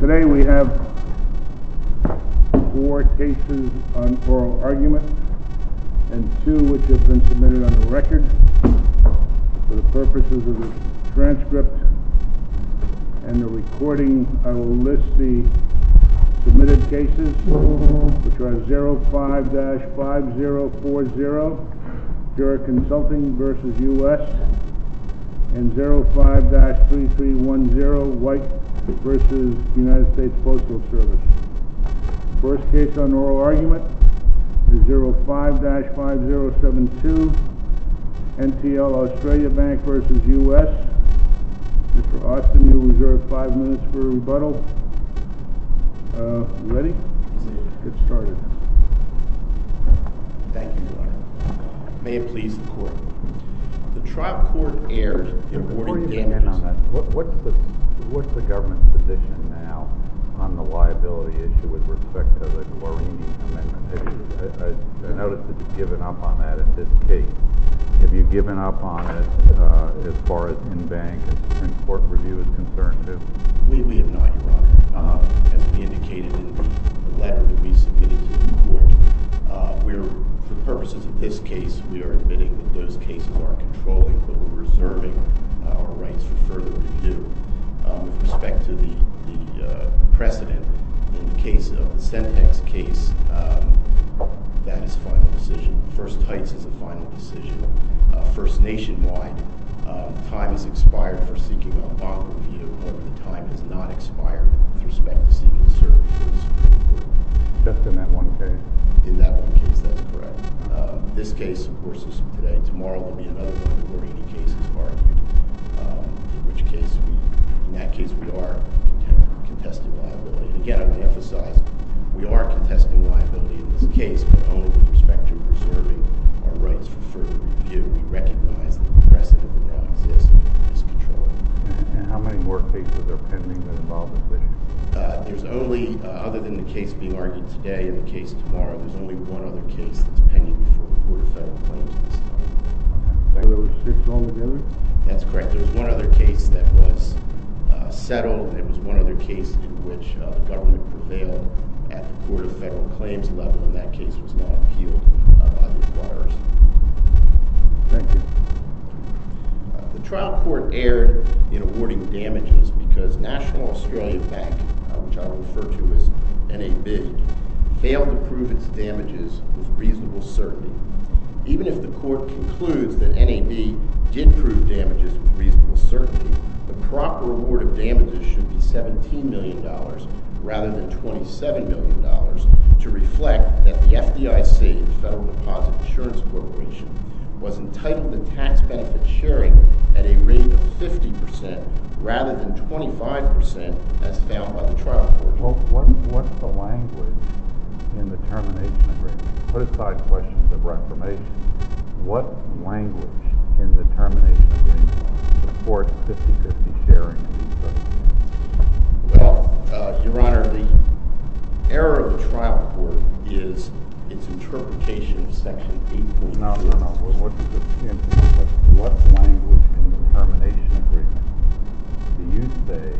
Today we have four cases on oral argument, and two which have been submitted on the record. For the purposes of the transcript and the recording, I will list the submitted cases, which are 05-5040 Gerrit Consulting v. U.S. and 05-3310 White v. United States Postal Service. The first case on oral argument is 05-5072 NTL Australia Bank v. U.S. Mr. Austin, you are reserved five minutes for rebuttal. Are you ready? Let's get started. Thank you, Your Honor. May it please the Court. The trial court erred in awarding... Before you begin on that, what's the government's position now on the liability issue with respect to the Guarini Amendment? I notice that you've given up on that in this case. Have you given up on it as far as in-bank and court review is concerned, too? We have not, Your Honor. As we indicated in the letter that we submitted to the Court, for purposes of this case, we are admitting that those cases are controlling, but we're reserving our rights for further review. With respect to the precedent in the case of the Centex case, that is a final decision. First Heights is a final decision. First Nationwide, time has expired for seeking a bond review, however, the time has not expired with respect to seeking a service review. Just in that one case? In that one case, that's correct. This case, of course, is today. Tomorrow will be another one of the Guarini cases argued, in which case we are contesting liability. Again, I would emphasize, we are contesting liability in this case, but only with respect to reserving our rights for further review. We recognize that the precedent that now exists is controlling. How many more cases are pending that involve this litigation? There's only, other than the case being argued today and the case tomorrow, there's only one other case that's pending before the Court of Federal Claims this time. The one that was fixed altogether? That's correct. There was one other case that was settled, and it was one other case in which the government prevailed at the Court of Federal Claims level. In that case, it was not appealed by the acquirers. Thank you. The trial court erred in awarding damages because National Australian Bank, which I will refer to as NAB, failed to prove its damages with reasonable certainty. Even if the court concludes that NAB did prove damages with reasonable certainty, the proper award of damages should be $17 million rather than $27 million to reflect that the FDIC, the Federal Deposit Insurance Corporation, was entitled to tax benefit sharing at a rate of 50% rather than 25% as found by the trial court. What's the language in the termination agreement? Put aside questions of reformation. What language in the termination agreement supports 50-50 sharing? Well, Your Honor, the error of the trial court is its interpretation of Section 8. No, no, no. What language in the termination agreement do you say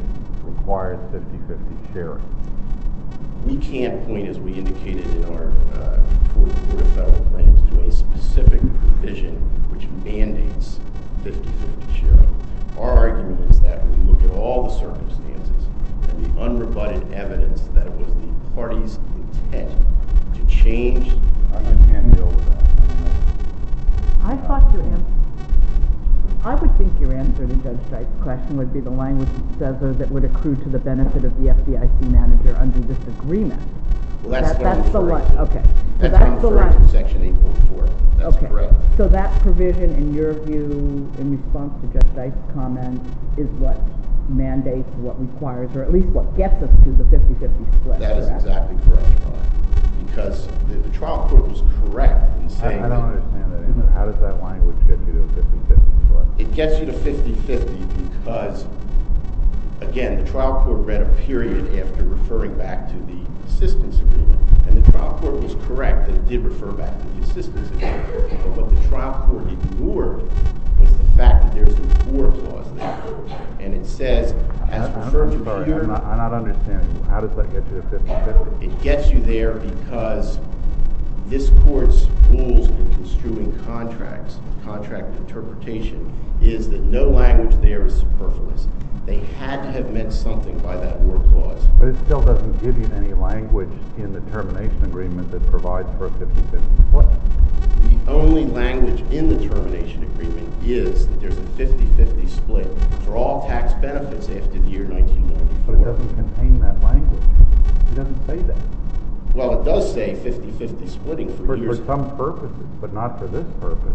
requires 50-50 sharing? We can't point, as we indicated in our Court of Federal Claims, to a specific provision which mandates 50-50 sharing. Our argument is that when you look at all the circumstances and the unrebutted evidence that it was the party's intent to change the deal. I can't deal with that. I thought your answer—I would think your answer to Judge Dyke's question would be the language that says that it would accrue to the benefit of the FDIC manager under this agreement. Well, that's what I'm referring to. That's what I'm referring to in Section 8.4. That's correct. So that provision, in your view, in response to Judge Dyke's comment, is what mandates, what requires, or at least what gets us to the 50-50 split. That is exactly correct, Your Honor, because the trial court was correct in saying that— I don't understand that. How does that language get you to a 50-50 split? It gets you to 50-50 because, again, the trial court read a period after referring back to the assistance agreement, and the trial court was correct and did refer back to the assistance agreement, but what the trial court ignored was the fact that there's a war clause there, and it says, as referred to— I don't understand. How does that get you to 50-50? It gets you there because this Court's rules in construing contracts, contract interpretation, is that no language there is superfluous. They had to have meant something by that war clause. But it still doesn't give you any language in the termination agreement that provides for a 50-50 split. The only language in the termination agreement is that there's a 50-50 split for all tax benefits after the year 1944. But it doesn't contain that language. It doesn't say that. Well, it does say 50-50 splitting for years— For some purposes, but not for this purpose.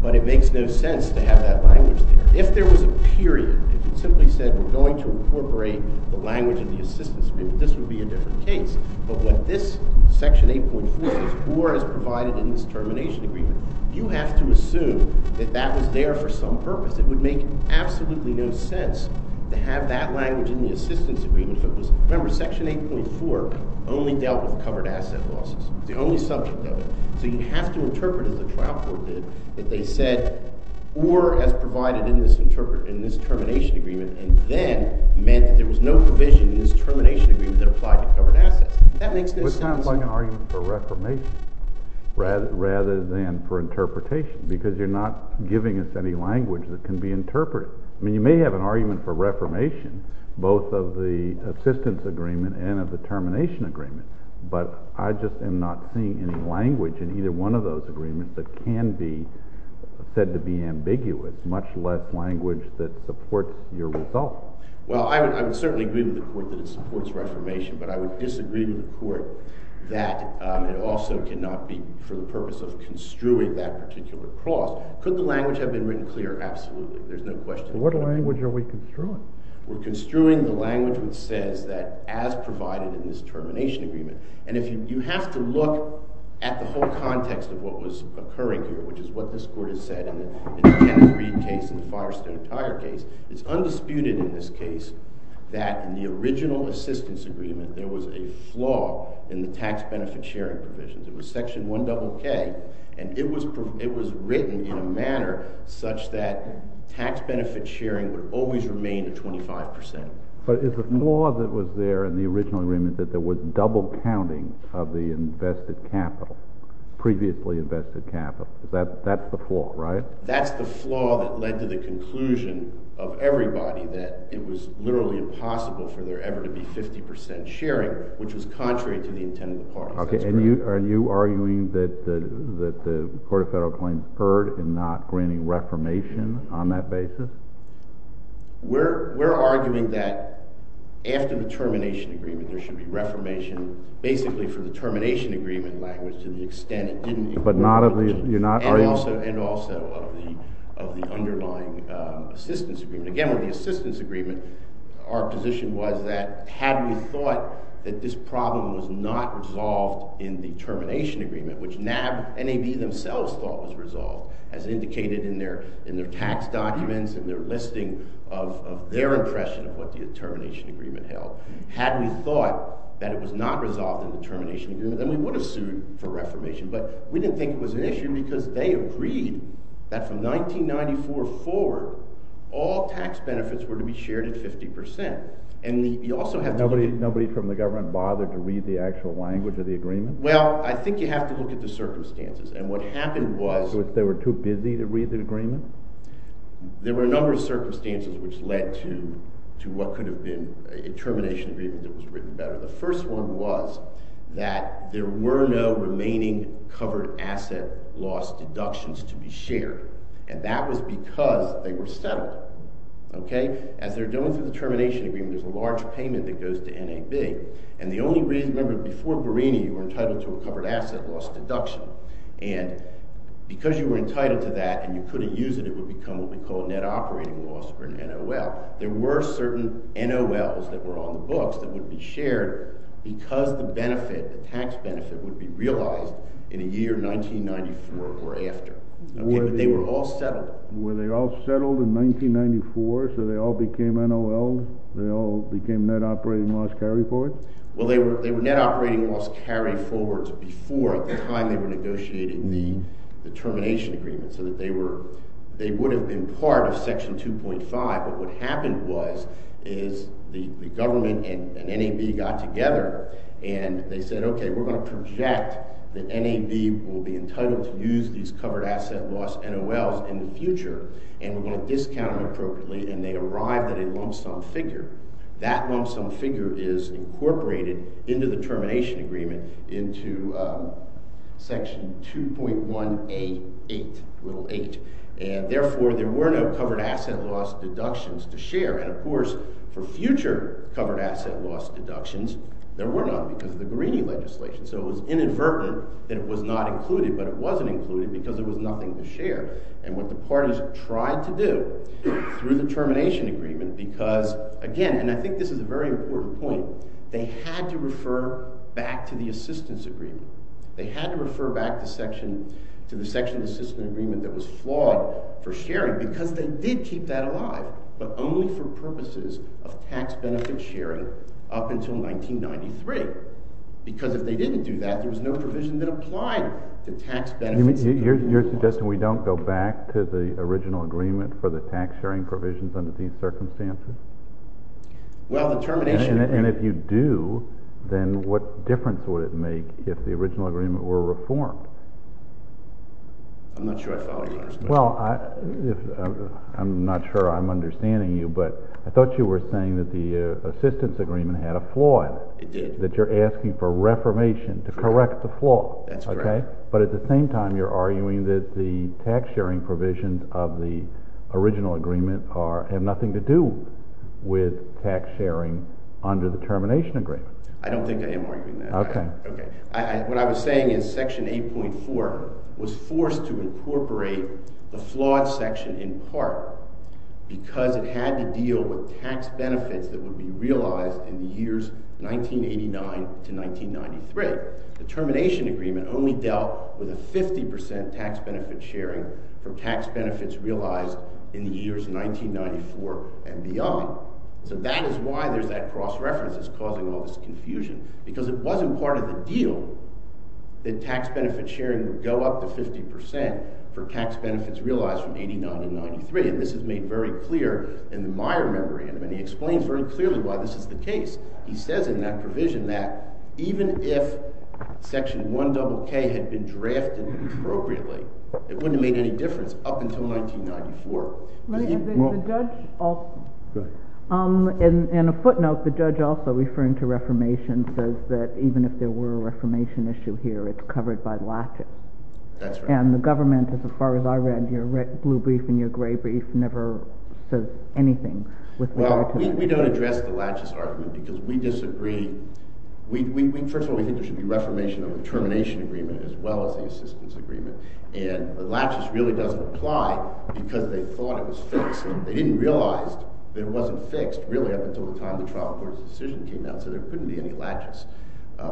But it makes no sense to have that language there. If there was a period, if you simply said, we're going to incorporate the language in the assistance agreement, this would be a different case. But what this Section 8.4 says, war as provided in this termination agreement, you have to assume that that was there for some purpose. It would make absolutely no sense to have that language in the assistance agreement. Remember, Section 8.4 only dealt with covered asset losses. It's the only subject of it. So you have to interpret, as the trial court did, that they said war as provided in this termination agreement and then meant that there was no provision in this termination agreement that applied to covered assets. That makes no sense. It's kind of like an argument for reformation rather than for interpretation because you're not giving us any language that can be interpreted. I mean, you may have an argument for reformation, both of the assistance agreement and of the termination agreement, but I just am not seeing any language in either one of those agreements that can be said to be ambiguous, much less language that supports your result. Well, I would certainly agree with the Court that it supports reformation, but I would disagree with the Court that it also cannot be for the purpose of construing that particular clause. Could the language have been written clear? Absolutely. There's no question. What language are we construing? We're construing the language that says that as provided in this termination agreement. And you have to look at the whole context of what was occurring here, which is what this Court has said in the Jack Reed case and the Firestone Tire case. It's undisputed in this case that in the original assistance agreement, there was a flaw in the tax benefit sharing provisions. It was Section 1KK, and it was written in a manner such that tax benefit sharing would always remain at 25%. But is the flaw that was there in the original agreement that there was double counting of the invested capital, previously invested capital? That's the flaw, right? That's the flaw that led to the conclusion of everybody that it was literally impossible for there ever to be 50% sharing, which was contrary to the intended purpose. Okay. And you are arguing that the Court of Federal Claims deferred in not granting reformation on that basis? We're arguing that after the termination agreement, there should be reformation, basically for the termination agreement language to the extent it didn't include— But not of the—you're not— And also of the underlying assistance agreement. Our position was that had we thought that this problem was not resolved in the termination agreement, which NAB themselves thought was resolved, as indicated in their tax documents and their listing of their impression of what the termination agreement held, had we thought that it was not resolved in the termination agreement, then we would have sued for reformation. But we didn't think it was an issue because they agreed that from 1994 forward, all tax benefits were to be shared at 50%. And you also have to— Nobody from the government bothered to read the actual language of the agreement? Well, I think you have to look at the circumstances. And what happened was— They were too busy to read the agreement? There were a number of circumstances which led to what could have been a termination agreement that was written better. The first one was that there were no remaining covered asset loss deductions to be shared. And that was because they were settled. Okay? As they're going through the termination agreement, there's a large payment that goes to NAB. And the only reason—remember, before Berrini, you were entitled to a covered asset loss deduction. And because you were entitled to that and you couldn't use it, it would become what we call a net operating loss or an NOL. There were certain NOLs that were on the books that would be shared because the benefit, the tax benefit, would be realized in the year 1994 or after. But they were all settled. Were they all settled in 1994 so they all became NOLs? They all became net operating loss carry-forwards? Well, they were net operating loss carry-forwards before, at the time they were negotiating the termination agreement, so that they would have been part of Section 2.5. But what happened was the government and NAB got together and they said, okay, we're going to project that NAB will be entitled to use these covered asset loss NOLs in the future, and we're going to discount them appropriately, and they arrived at a lump sum figure. That lump sum figure is incorporated into the termination agreement into Section 2.188. And therefore, there were no covered asset loss deductions to share. And of course, for future covered asset loss deductions, there were none because of the Grini legislation. So it was inadvertent that it was not included, but it wasn't included because there was nothing to share. And what the parties tried to do through the termination agreement because, again, and I think this is a very important point, they had to refer back to the assistance agreement. They had to refer back to the section of the assistance agreement that was flawed for sharing because they did keep that alive, but only for purposes of tax benefit sharing up until 1993. Because if they didn't do that, there was no provision that applied to tax benefits. You're suggesting we don't go back to the original agreement for the tax sharing provisions under these circumstances? Well, the termination agreement— And if you do, then what difference would it make if the original agreement were reformed? I'm not sure I follow your understanding. Well, I'm not sure I'm understanding you, but I thought you were saying that the assistance agreement had a flaw in it. It did. That you're asking for reformation to correct the flaw. That's correct. But at the same time, you're arguing that the tax sharing provisions of the original agreement have nothing to do with tax sharing under the termination agreement. I don't think I am arguing that. Okay. What I was saying is section 8.4 was forced to incorporate the flawed section in part because it had to deal with tax benefits that would be realized in the years 1989 to 1993. The termination agreement only dealt with a 50 percent tax benefit sharing for tax benefits realized in the years 1994 and beyond. So that is why there's that cross-reference that's causing all this confusion. Because it wasn't part of the deal that tax benefit sharing would go up to 50 percent for tax benefits realized from 1989 to 1993. And this is made very clear in the Meyer memory. And he explains very clearly why this is the case. He says in that provision that even if section 100K had been drafted appropriately, it wouldn't have made any difference up until 1994. The judge also, in a footnote, the judge also, referring to reformation, says that even if there were a reformation issue here, it's covered by laches. That's right. And the government, as far as I read, your blue brief and your gray brief never says anything with regard to that. We don't address the laches argument because we disagree. First of all, we think there should be reformation of the termination agreement as well as the assistance agreement. And the laches really doesn't apply because they thought it was fixed. They didn't realize it wasn't fixed really up until the time the trial court's decision came out. So there couldn't be any laches.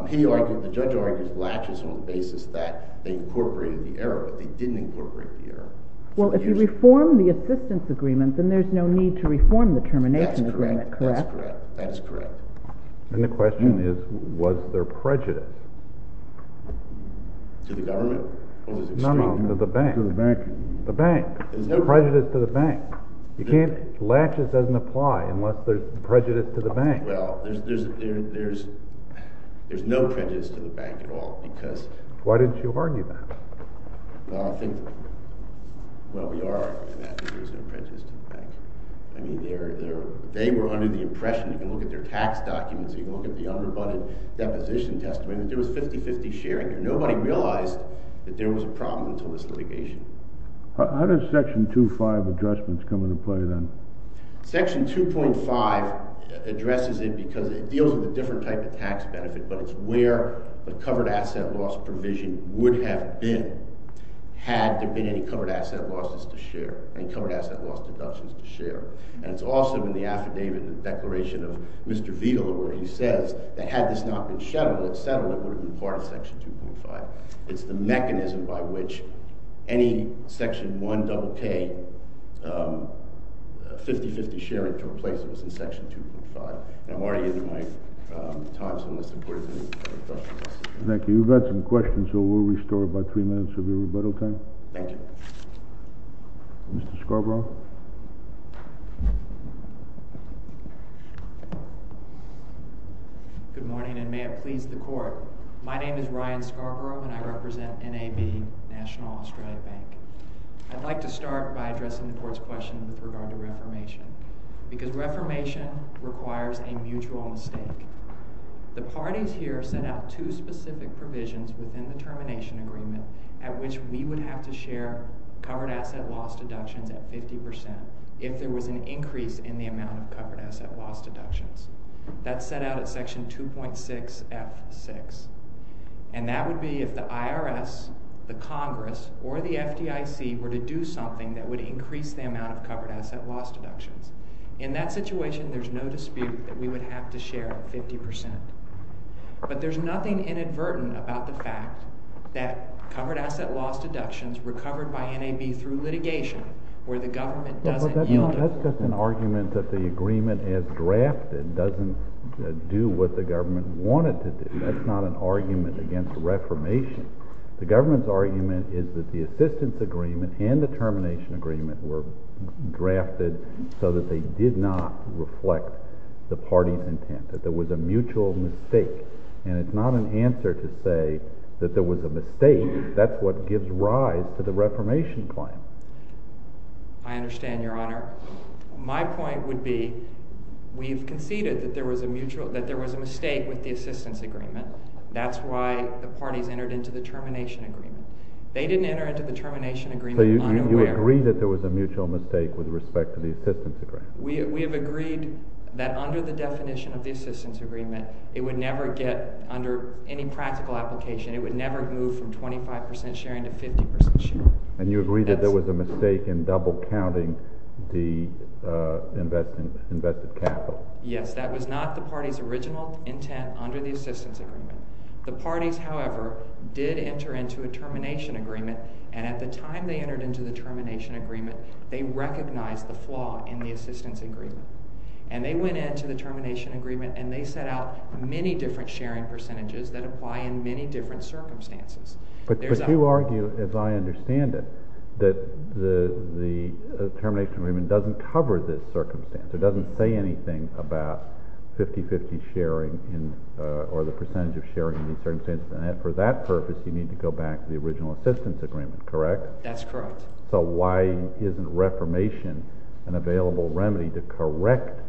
He argued, the judge argued, laches on the basis that they incorporated the error, but they didn't incorporate the error. Well, if you reform the assistance agreement, then there's no need to reform the termination agreement, correct? That's correct. And the question is, was there prejudice? To the government? No, no, to the bank. To the bank. The bank. There's no prejudice to the bank. Laches doesn't apply unless there's prejudice to the bank. Well, there's no prejudice to the bank at all because Why didn't you argue that? Well, I think, well, we are arguing that there's no prejudice to the bank. I mean, they were under the impression, if you look at their tax documents, if you look at the underfunded deposition testimony, that there was 50-50 sharing. Nobody realized that there was a problem until this litigation. How does section 2.5 of the judgment come into play then? Section 2.5 addresses it because it deals with a different type of tax benefit, but it's where the covered asset loss provision would have been had there been any covered asset losses to share, any covered asset loss deductions to share. And it's also in the affidavit, the declaration of Mr. Veal, where he says that had this not been settled, it would have been part of section 2.5. It's the mechanism by which any section 1KK 50-50 sharing to replace it was in section 2.5. And I'm already in my time, so unless there's any further questions. Thank you. We've got some questions, so we'll restore about three minutes of your rebuttal time. Thank you. Mr. Scarborough. Good morning, and may it please the Court. My name is Ryan Scarborough, and I represent NAB, National Australia Bank. I'd like to start by addressing the Court's question with regard to reformation because reformation requires a mutual mistake. The parties here set out two specific provisions within the termination agreement at which we would have to share covered asset loss deductions at 50% if there was an increase in the amount of covered asset loss deductions. That's set out at section 2.6F6, and that would be if the IRS, the Congress, or the FDIC were to do something that would increase the amount of covered asset loss deductions. In that situation, there's no dispute that we would have to share 50%. But there's nothing inadvertent about the fact that covered asset loss deductions recovered by NAB through litigation where the government doesn't yield it. That's just an argument that the agreement as drafted doesn't do what the government wanted to do. That's not an argument against reformation. The government's argument is that the assistance agreement and the termination agreement were drafted so that they did not reflect the party's intent, that there was a mutual mistake. And it's not an answer to say that there was a mistake. That's what gives rise to the reformation claim. I understand, Your Honor. My point would be we've conceded that there was a mistake with the assistance agreement. That's why the parties entered into the termination agreement. They didn't enter into the termination agreement unaware. So you agree that there was a mutual mistake with respect to the assistance agreement? We have agreed that under the definition of the assistance agreement, it would never get under any practical application. It would never move from 25% sharing to 50% sharing. And you agree that there was a mistake in double counting the invested capital? Yes, that was not the party's original intent under the assistance agreement. The parties, however, did enter into a termination agreement, and at the time they entered into the termination agreement, they recognized the flaw in the assistance agreement. And they went into the termination agreement, and they set out many different sharing percentages that apply in many different circumstances. But you argue, as I understand it, that the termination agreement doesn't cover this circumstance. It doesn't say anything about 50-50 sharing or the percentage of sharing in these circumstances. And for that purpose, you need to go back to the original assistance agreement, correct? That's correct. So why isn't reformation an available remedy to correct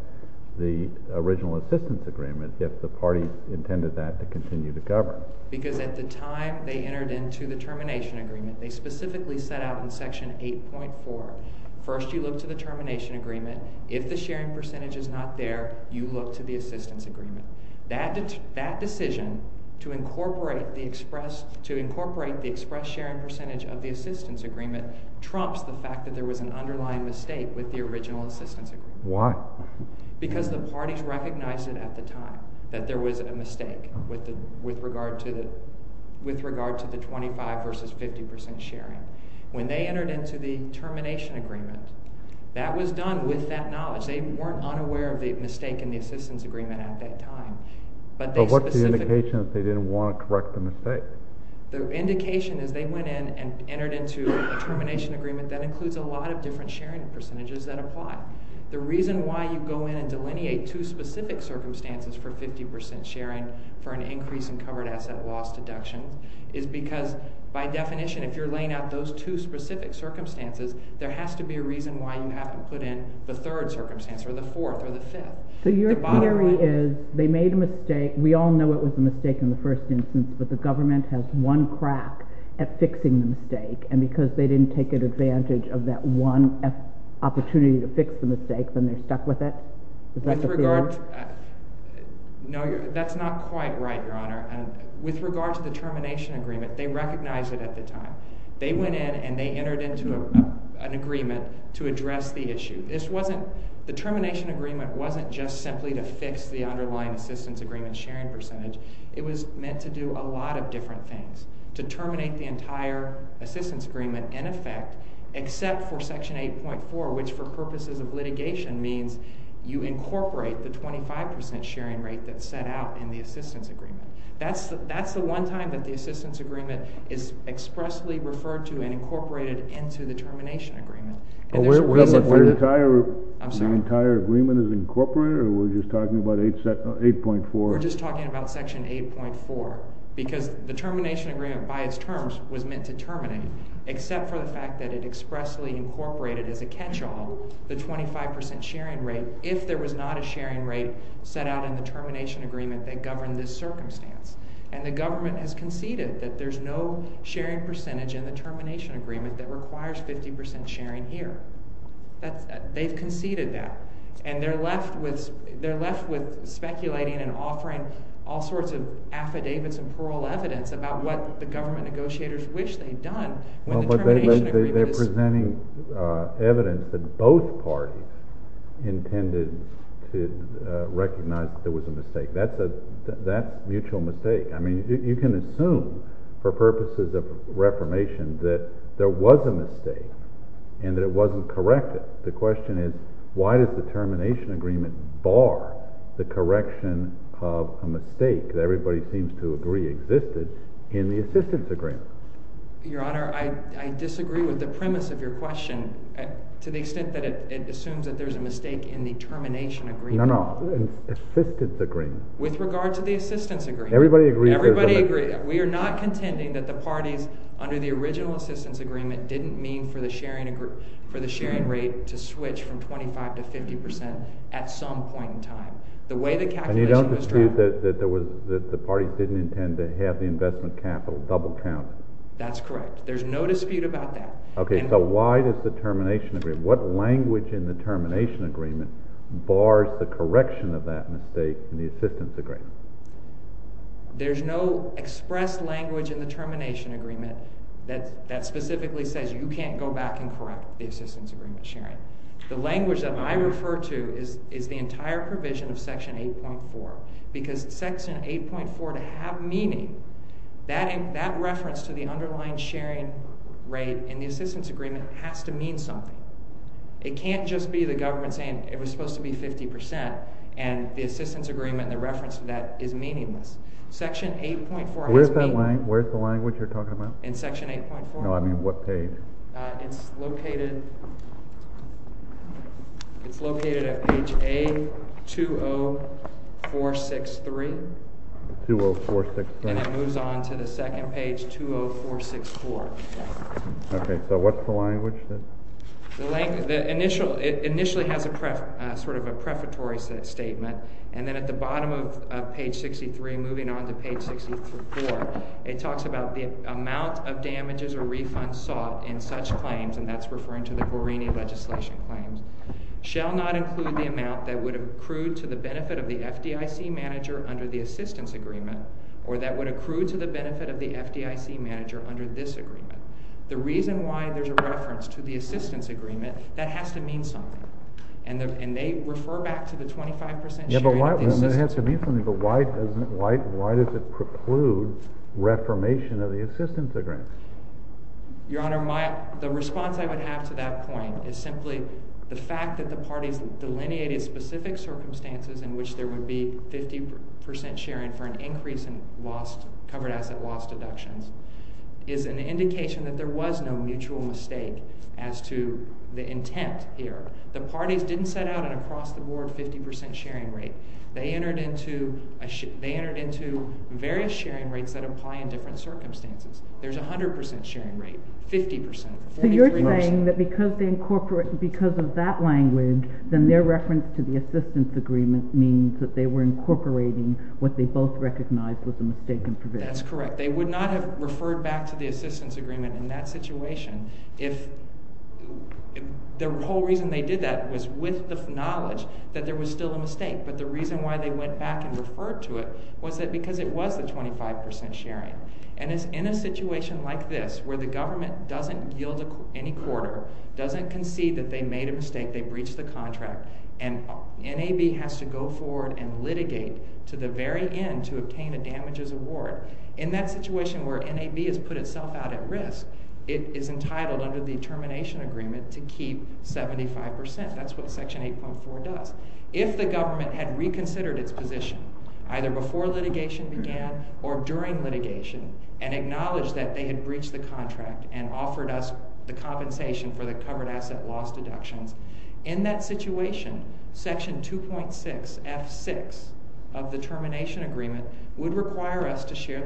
the original assistance agreement if the parties intended that to continue to govern? Because at the time they entered into the termination agreement, they specifically set out in Section 8.4, first you look to the termination agreement. If the sharing percentage is not there, you look to the assistance agreement. That decision to incorporate the express sharing percentage of the assistance agreement trumps the fact that there was an underlying mistake with the original assistance agreement. Why? Because the parties recognized it at the time that there was a mistake with regard to the 25% versus 50% sharing. When they entered into the termination agreement, that was done with that knowledge. They weren't unaware of the mistake in the assistance agreement at that time. But what's the indication that they didn't want to correct the mistake? The indication is they went in and entered into a termination agreement that includes a lot of different sharing percentages that apply. The reason why you go in and delineate two specific circumstances for 50% sharing for an increase in covered asset loss deduction is because, by definition, if you're laying out those two specific circumstances, there has to be a reason why you haven't put in the third circumstance, or the fourth, or the fifth. So your theory is they made a mistake. We all know it was a mistake in the first instance, but the government has one crack at fixing the mistake. And because they didn't take advantage of that one opportunity to fix the mistake, then they stuck with it? No, that's not quite right, Your Honor. With regard to the termination agreement, they recognized it at the time. They went in and they entered into an agreement to address the issue. The termination agreement wasn't just simply to fix the underlying assistance agreement sharing percentage. It was meant to do a lot of different things, to terminate the entire assistance agreement in effect, except for Section 8.4, which, for purposes of litigation, means you incorporate the 25% sharing rate that's set out in the assistance agreement. That's the one time that the assistance agreement is expressly referred to and incorporated into the termination agreement. The entire agreement is incorporated, or we're just talking about 8.4? We're just talking about Section 8.4, because the termination agreement, by its terms, was meant to terminate, except for the fact that it expressly incorporated as a catch-all the 25% sharing rate if there was not a sharing rate set out in the termination agreement that governed this circumstance. And the government has conceded that there's no sharing percentage in the termination agreement that requires 50% sharing here. They've conceded that, and they're left with speculating and offering all sorts of affidavits and plural evidence about what the government negotiators wish they'd done They're presenting evidence that both parties intended to recognize that there was a mistake. That's a mutual mistake. I mean, you can assume, for purposes of reformation, that there was a mistake and that it wasn't corrected. The question is, why does the termination agreement bar the correction of a mistake that everybody seems to agree existed in the assistance agreement? Your Honor, I disagree with the premise of your question to the extent that it assumes that there's a mistake in the termination agreement. No, no. Assistance agreement. With regard to the assistance agreement. Everybody agrees there's a mistake. Everybody agrees. We are not contending that the parties, under the original assistance agreement, didn't mean for the sharing rate to switch from 25% to 50% at some point in time. The way the calculation was drawn out. You said that the parties didn't intend to have the investment capital double counted. That's correct. There's no dispute about that. Okay, so why does the termination agreement, what language in the termination agreement bars the correction of that mistake in the assistance agreement? There's no expressed language in the termination agreement that specifically says you can't go back and correct the assistance agreement sharing. The language that I refer to is the entire provision of Section 8.4. Because Section 8.4, to have meaning, that reference to the underlying sharing rate in the assistance agreement has to mean something. It can't just be the government saying it was supposed to be 50% and the assistance agreement and the reference to that is meaningless. Section 8.4 has meaning. Where's the language you're talking about? In Section 8.4? No, I mean what page? It's located at page A20463. 20463. And it moves on to the second page, 20464. Okay, so what's the language? It initially has sort of a prefatory statement. And then at the bottom of page 63, moving on to page 64, it talks about the amount of damages or refunds sought in such claims, and that's referring to the Guarini legislation claims, shall not include the amount that would accrue to the benefit of the FDIC manager under the assistance agreement or that would accrue to the benefit of the FDIC manager under this agreement. The reason why there's a reference to the assistance agreement, that has to mean something. And they refer back to the 25% sharing of the assistance agreement. It has to mean something, but why does it preclude reformation of the assistance agreement? Your Honor, the response I would have to that point is simply the fact that the parties delineated specific circumstances in which there would be 50% sharing for an increase in covered asset loss deductions is an indication that there was no mutual mistake as to the intent here. The parties didn't set out an across-the-board 50% sharing rate. They entered into various sharing rates that apply in different circumstances. There's a 100% sharing rate, 50%, 43%. So you're saying that because of that language, then their reference to the assistance agreement means that they were incorporating what they both recognized was a mistake in provision. That's correct. They would not have referred back to the assistance agreement in that situation if the whole reason they did that was with the knowledge that there was still a mistake, but the reason why they went back and referred to it was because it was the 25% sharing. And it's in a situation like this where the government doesn't yield any quarter, doesn't concede that they made a mistake, they breached the contract, and NAB has to go forward and litigate to the very end to obtain a damages award. In that situation where NAB has put itself out at risk, it is entitled under the termination agreement to keep 75%. That's what Section 8.4 does. If the government had reconsidered its position either before litigation began or during litigation and acknowledged that they had breached the contract and offered us the compensation for the covered asset loss deductions, in that situation, Section 2.6 F6 of the termination agreement would require us to share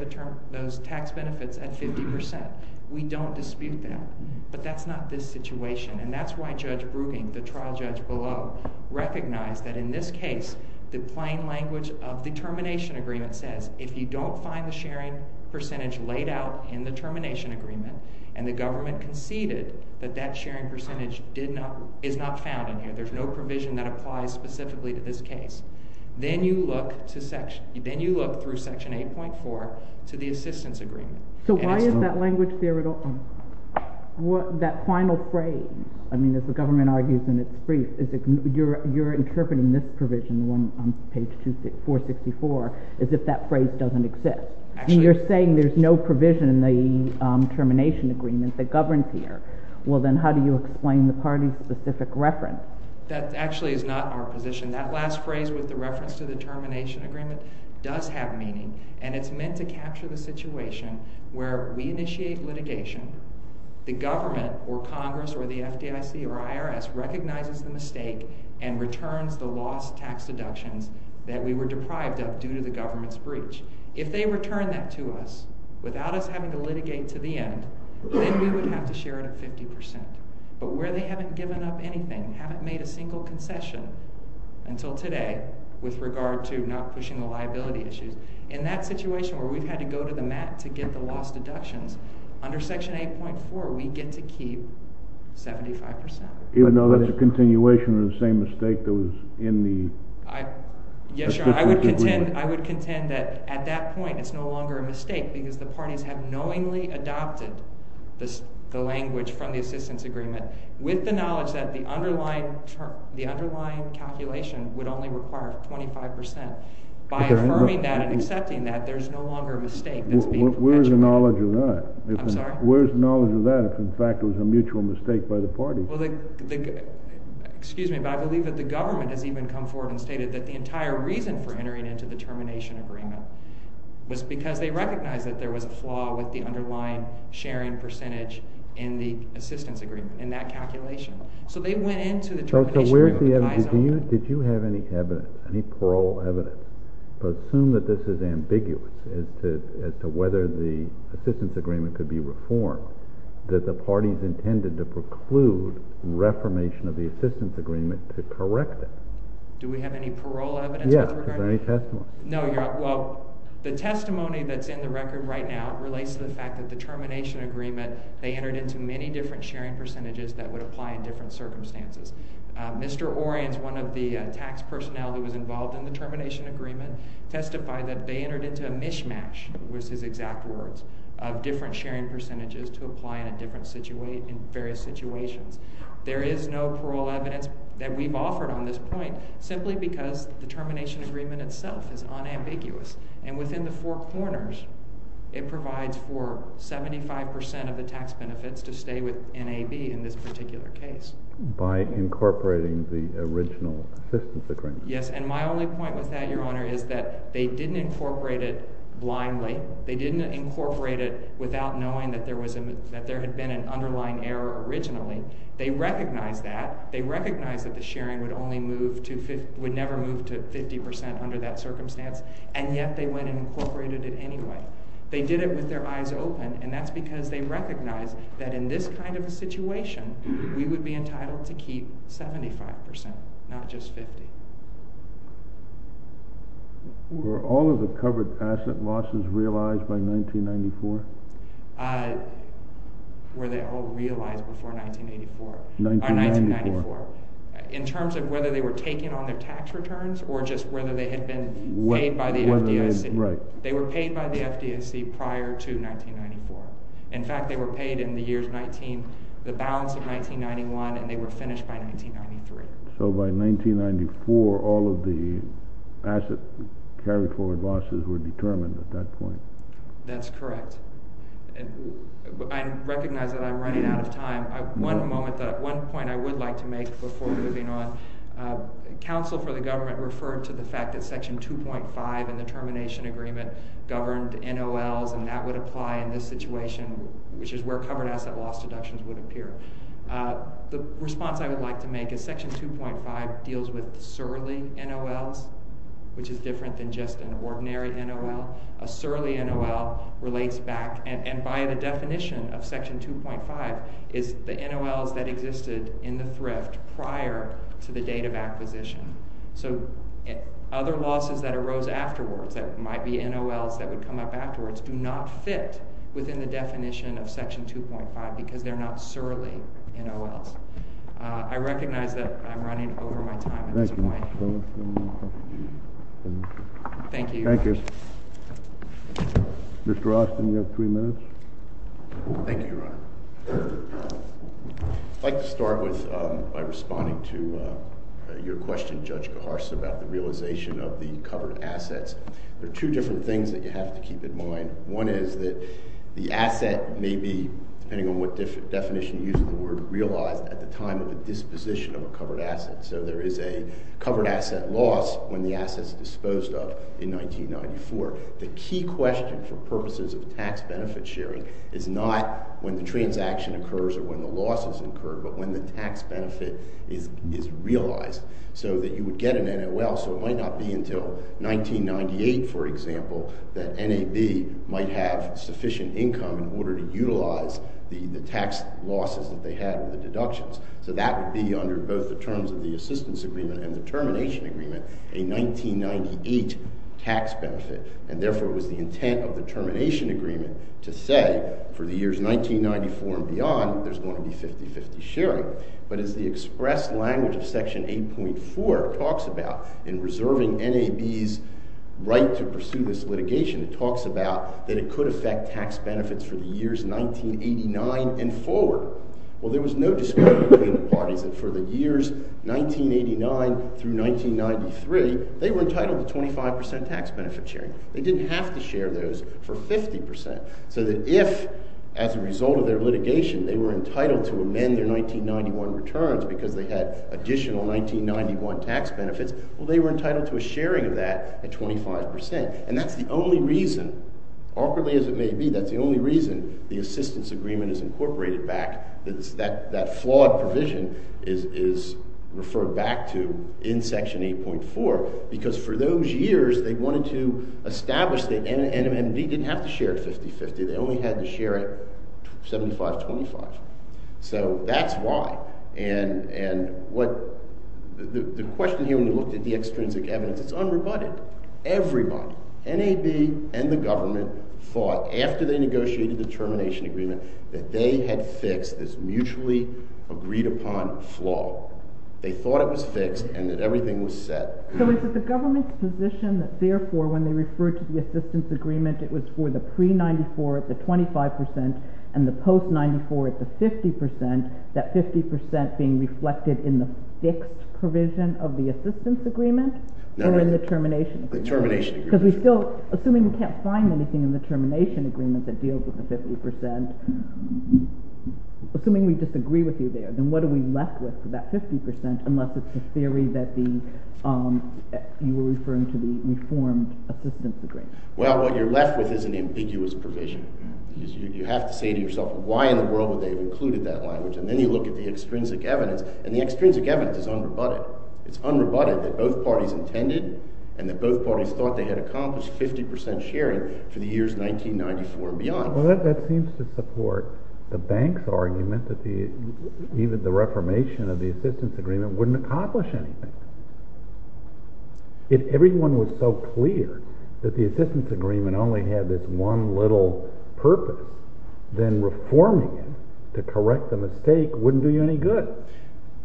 those tax benefits at 50%. We don't dispute that, but that's not this situation, and that's why Judge Brugging, the trial judge below, recognized that in this case the plain language of the termination agreement says if you don't find the sharing percentage laid out in the termination agreement and the government conceded that that sharing percentage is not found in here, there's no provision that applies specifically to this case, then you look through Section 8.4 to the assistance agreement. So why is that language there at all? That final phrase, I mean, as the government argues in its brief, you're interpreting this provision on page 464 as if that phrase doesn't exist. You're saying there's no provision in the termination agreement that governs here. Well, then how do you explain the party's specific reference? That actually is not our position. That last phrase with the reference to the termination agreement does have meaning, and it's meant to capture the situation where we initiate litigation, the government or Congress or the FDIC or IRS recognizes the mistake and returns the lost tax deductions that we were deprived of due to the government's breach. If they return that to us without us having to litigate to the end, then we would have to share it at 50%. But where they haven't given up anything, haven't made a single concession until today with regard to not pushing the liability issues, in that situation where we've had to go to the mat to get the lost deductions, under Section 8.4 we get to keep 75%. Even though that's a continuation of the same mistake that was in the assistance agreement? Yes, Your Honor, I would contend that at that point it's no longer a mistake because the parties have knowingly adopted the language from the assistance agreement with the knowledge that the underlying calculation would only require 25%. By affirming that and accepting that, there's no longer a mistake that's being perpetuated. Where's the knowledge of that? I'm sorry? Where's the knowledge of that if in fact it was a mutual mistake by the party? Well, excuse me, but I believe that the government has even come forward and stated that the entire reason for entering into the termination agreement was because they recognized that there was a flaw with the underlying sharing percentage in the assistance agreement, in that calculation. So they went into the termination agreement with the eyes open. So where's the evidence? Did you have any evidence, any parole evidence, to assume that this is ambiguous as to whether the assistance agreement could be reformed, that the parties intended to preclude reformation of the assistance agreement to correct it? Do we have any parole evidence with regard to that? Yes, is there any testimony? No, Your Honor, well, the testimony that's in the record right now relates to the fact that the termination agreement, they entered into many different sharing percentages that would apply in different circumstances. Mr. Orians, one of the tax personnel who was involved in the termination agreement, testified that they entered into a mishmash, was his exact words, of different sharing percentages to apply in various situations. There is no parole evidence that we've offered on this point simply because the termination agreement itself is unambiguous, and within the four corners, it provides for 75% of the tax benefits to stay with NAB in this particular case. By incorporating the original assistance agreement. Yes, and my only point with that, Your Honor, is that they didn't incorporate it blindly. They didn't incorporate it without knowing that there had been an underlying error originally. They recognized that. They recognized that the sharing would never move to 50% under that circumstance, and yet they went and incorporated it anyway. They did it with their eyes open, and that's because they recognized that in this kind of a situation, we would be entitled to keep 75%, not just 50%. Were all of the covered asset losses realized by 1994? Were they all realized before 1984? 1994. In terms of whether they were taking on their tax returns, or just whether they had been paid by the FDIC? Right. They were paid by the FDIC prior to 1994. In fact, they were paid in the balance of 1991, and they were finished by 1993. So by 1994, all of the asset carry-forward losses were determined at that point. That's correct. I recognize that I'm running out of time. One point I would like to make before moving on. Counsel for the government referred to the fact that Section 2.5 in the termination agreement governed NOLs, and that would apply in this situation, which is where covered asset loss deductions would appear. The response I would like to make is Section 2.5 deals with surly NOLs, which is different than just an ordinary NOL. A surly NOL relates back, and by the definition of Section 2.5, is the NOLs that existed in the thrift prior to the date of acquisition. So other losses that arose afterwards, that might be NOLs that would come up afterwards, do not fit within the definition of Section 2.5 because they're not surly NOLs. I recognize that I'm running over my time at this point. Thank you. Thank you. Mr. Austin, you have three minutes. Thank you, Your Honor. I'd like to start by responding to your question, Judge Geharst, about the realization of the covered assets. There are two different things that you have to keep in mind. One is that the asset may be, depending on what definition you use of the word, realized at the time of the disposition of a covered asset. So there is a covered asset loss when the asset is disposed of in 1994. The key question for purposes of tax benefit sharing is not when the transaction occurs or when the loss is incurred, but when the tax benefit is realized, so that you would get an NOL. So it might not be until 1998, for example, that NAB might have sufficient income in order to utilize the tax losses that they had with the deductions. So that would be under both the terms of the assistance agreement and the termination agreement, a 1998 tax benefit. And therefore, it was the intent of the termination agreement to say for the years 1994 and beyond, there's going to be 50-50 sharing. But as the express language of Section 8.4 talks about in reserving NAB's right to pursue this litigation, it talks about that it could affect tax benefits for the years 1989 and forward. Well, there was no disagreement between the parties that for the years 1989 through 1993, they were entitled to 25% tax benefit sharing. They didn't have to share those for 50%. So that if, as a result of their litigation, they were entitled to amend their 1991 returns because they had additional 1991 tax benefits, well, they were entitled to a sharing of that at 25%. And that's the only reason, awkwardly as it may be, that's the only reason the assistance agreement is incorporated back, that flawed provision is referred back to in Section 8.4 because for those years, they wanted to establish that NMV didn't have to share 50-50. They only had to share it 75-25. So that's why. And the question here when you look at the extrinsic evidence, it's unrebutted. Everybody, NAB and the government, fought after they negotiated the termination agreement that they had fixed this mutually agreed upon flaw. They thought it was fixed and that everything was set. So is it the government's position that therefore when they refer to the assistance agreement it was for the pre-'94 at the 25% and the post-'94 at the 50%, that 50% being reflected in the fixed provision of the assistance agreement or in the termination agreement? The termination agreement. Because we still, assuming we can't find anything in the termination agreement that deals with the 50%, assuming we disagree with you there, then what are we left with for that 50% unless it's the theory that you were referring to the reformed assistance agreement? Well, what you're left with is an ambiguous provision. You have to say to yourself, why in the world would they have included that language? And then you look at the extrinsic evidence, and the extrinsic evidence is unrebutted. It's unrebutted that both parties intended and that both parties thought they had accomplished 50% sharing for the years 1994 and beyond. Well, that seems to support the bank's argument that even the reformation of the assistance agreement wouldn't accomplish anything. If everyone was so clear that the assistance agreement only had this one little purpose, then reforming it to correct the mistake wouldn't do you any good.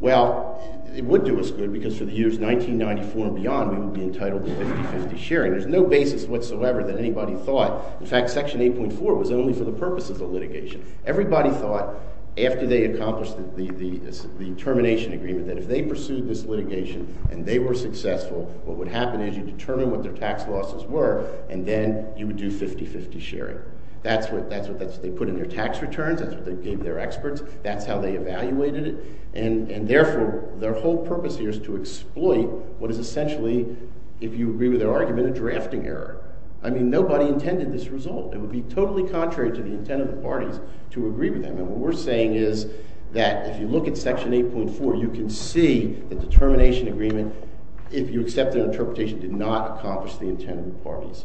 Well, it would do us good because for the years 1994 and beyond we would be entitled to 50-50 sharing. There's no basis whatsoever that anybody thought... In fact, Section 8.4 was only for the purposes of litigation. Everybody thought, after they accomplished the termination agreement, that if they pursued this litigation and they were successful, what would happen is you determine what their tax losses were and then you would do 50-50 sharing. That's what they put in their tax returns, that's what they gave their experts, that's how they evaluated it, and therefore their whole purpose here is to exploit what is essentially, if you agree with their argument, a drafting error. I mean, nobody intended this result. It would be totally contrary to the intent of the parties to agree with them, and what we're saying is that if you look at Section 8.4, you can see the termination agreement, if you accept their interpretation, did not accomplish the intent of the parties.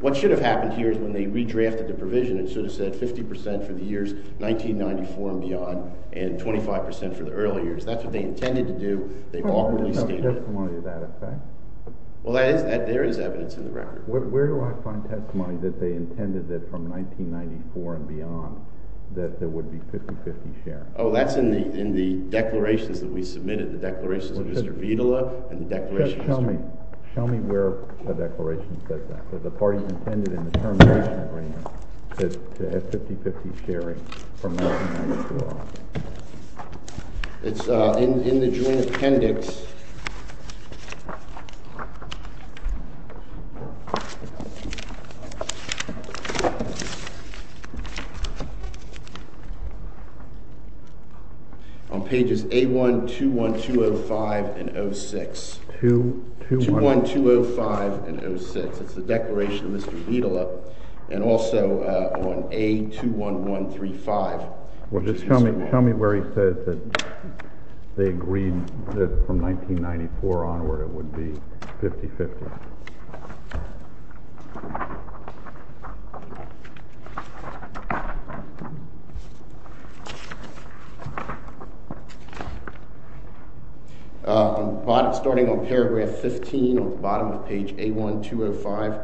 What should have happened here is when they redrafted the provision, it should have said 50% for the years 1994 and beyond and 25% for the early years. That's what they intended to do. Where do I find testimony of that effect? Well, there is evidence in the record. Where do I find testimony that they intended that from 1994 and beyond that there would be 50-50 sharing? Oh, that's in the declarations that we submitted, the declarations of Mr. Vitola and the declarations... Just show me where the declaration says that, where the parties intended in the termination agreement to have 50-50 sharing from 1994 on. It's in the Joint Appendix. On pages A1, 2, 1, 2, 0, 5, and 0, 6. 2, 1, 2, 0, 5, and 0, 6. It's the declaration of Mr. Vitola and also on A2, 1, 1, 3, 5. Well, just show me where he says that they agreed that from 1994 onward it would be 50-50. Starting on paragraph 15 on the bottom of page A1, 2, 1, 5.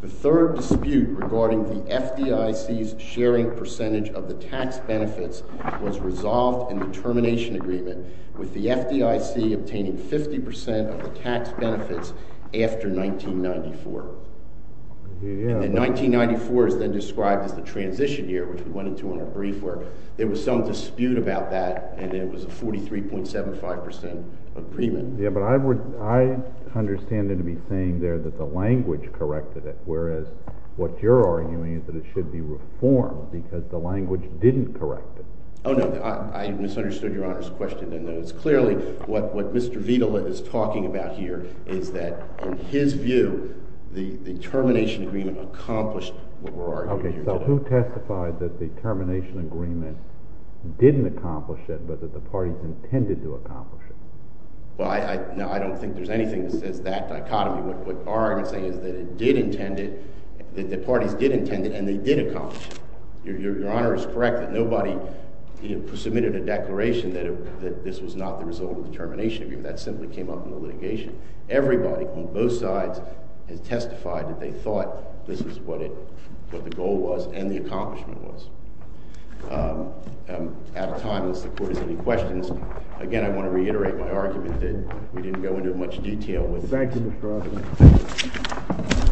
The third dispute regarding the FDIC's sharing percentage of the tax benefits was resolved in the termination agreement with the FDIC obtaining 50% of the tax benefits after 1994. And 1994 is then described as the transition year, which we went into in our brief work. There was some dispute about that, and it was a 43.75% agreement. Yeah, but I understand it to be saying there that the language corrected it, whereas what you're arguing is that it should be reformed because the language didn't correct it. Oh, no, I misunderstood Your Honor's question, and it's clearly what Mr. Vitola is talking about here is that, in his view, the termination agreement accomplished what we're arguing. Okay, so who testified that the termination agreement didn't accomplish it, but that the parties intended to accomplish it? Well, no, I don't think there's anything that says that dichotomy. What our argument is saying is that it did intend it, that the parties did intend it, and they did accomplish it. Your Honor is correct that nobody submitted a declaration that this was not the result of the termination agreement. That simply came up in the litigation. Everybody on both sides has testified that they thought this was what the goal was and the accomplishment was. I'm out of time unless the Court has any questions. Again, I want to reiterate my argument that we didn't go into much detail with it. Thank you, Mr. Ross. Thank you.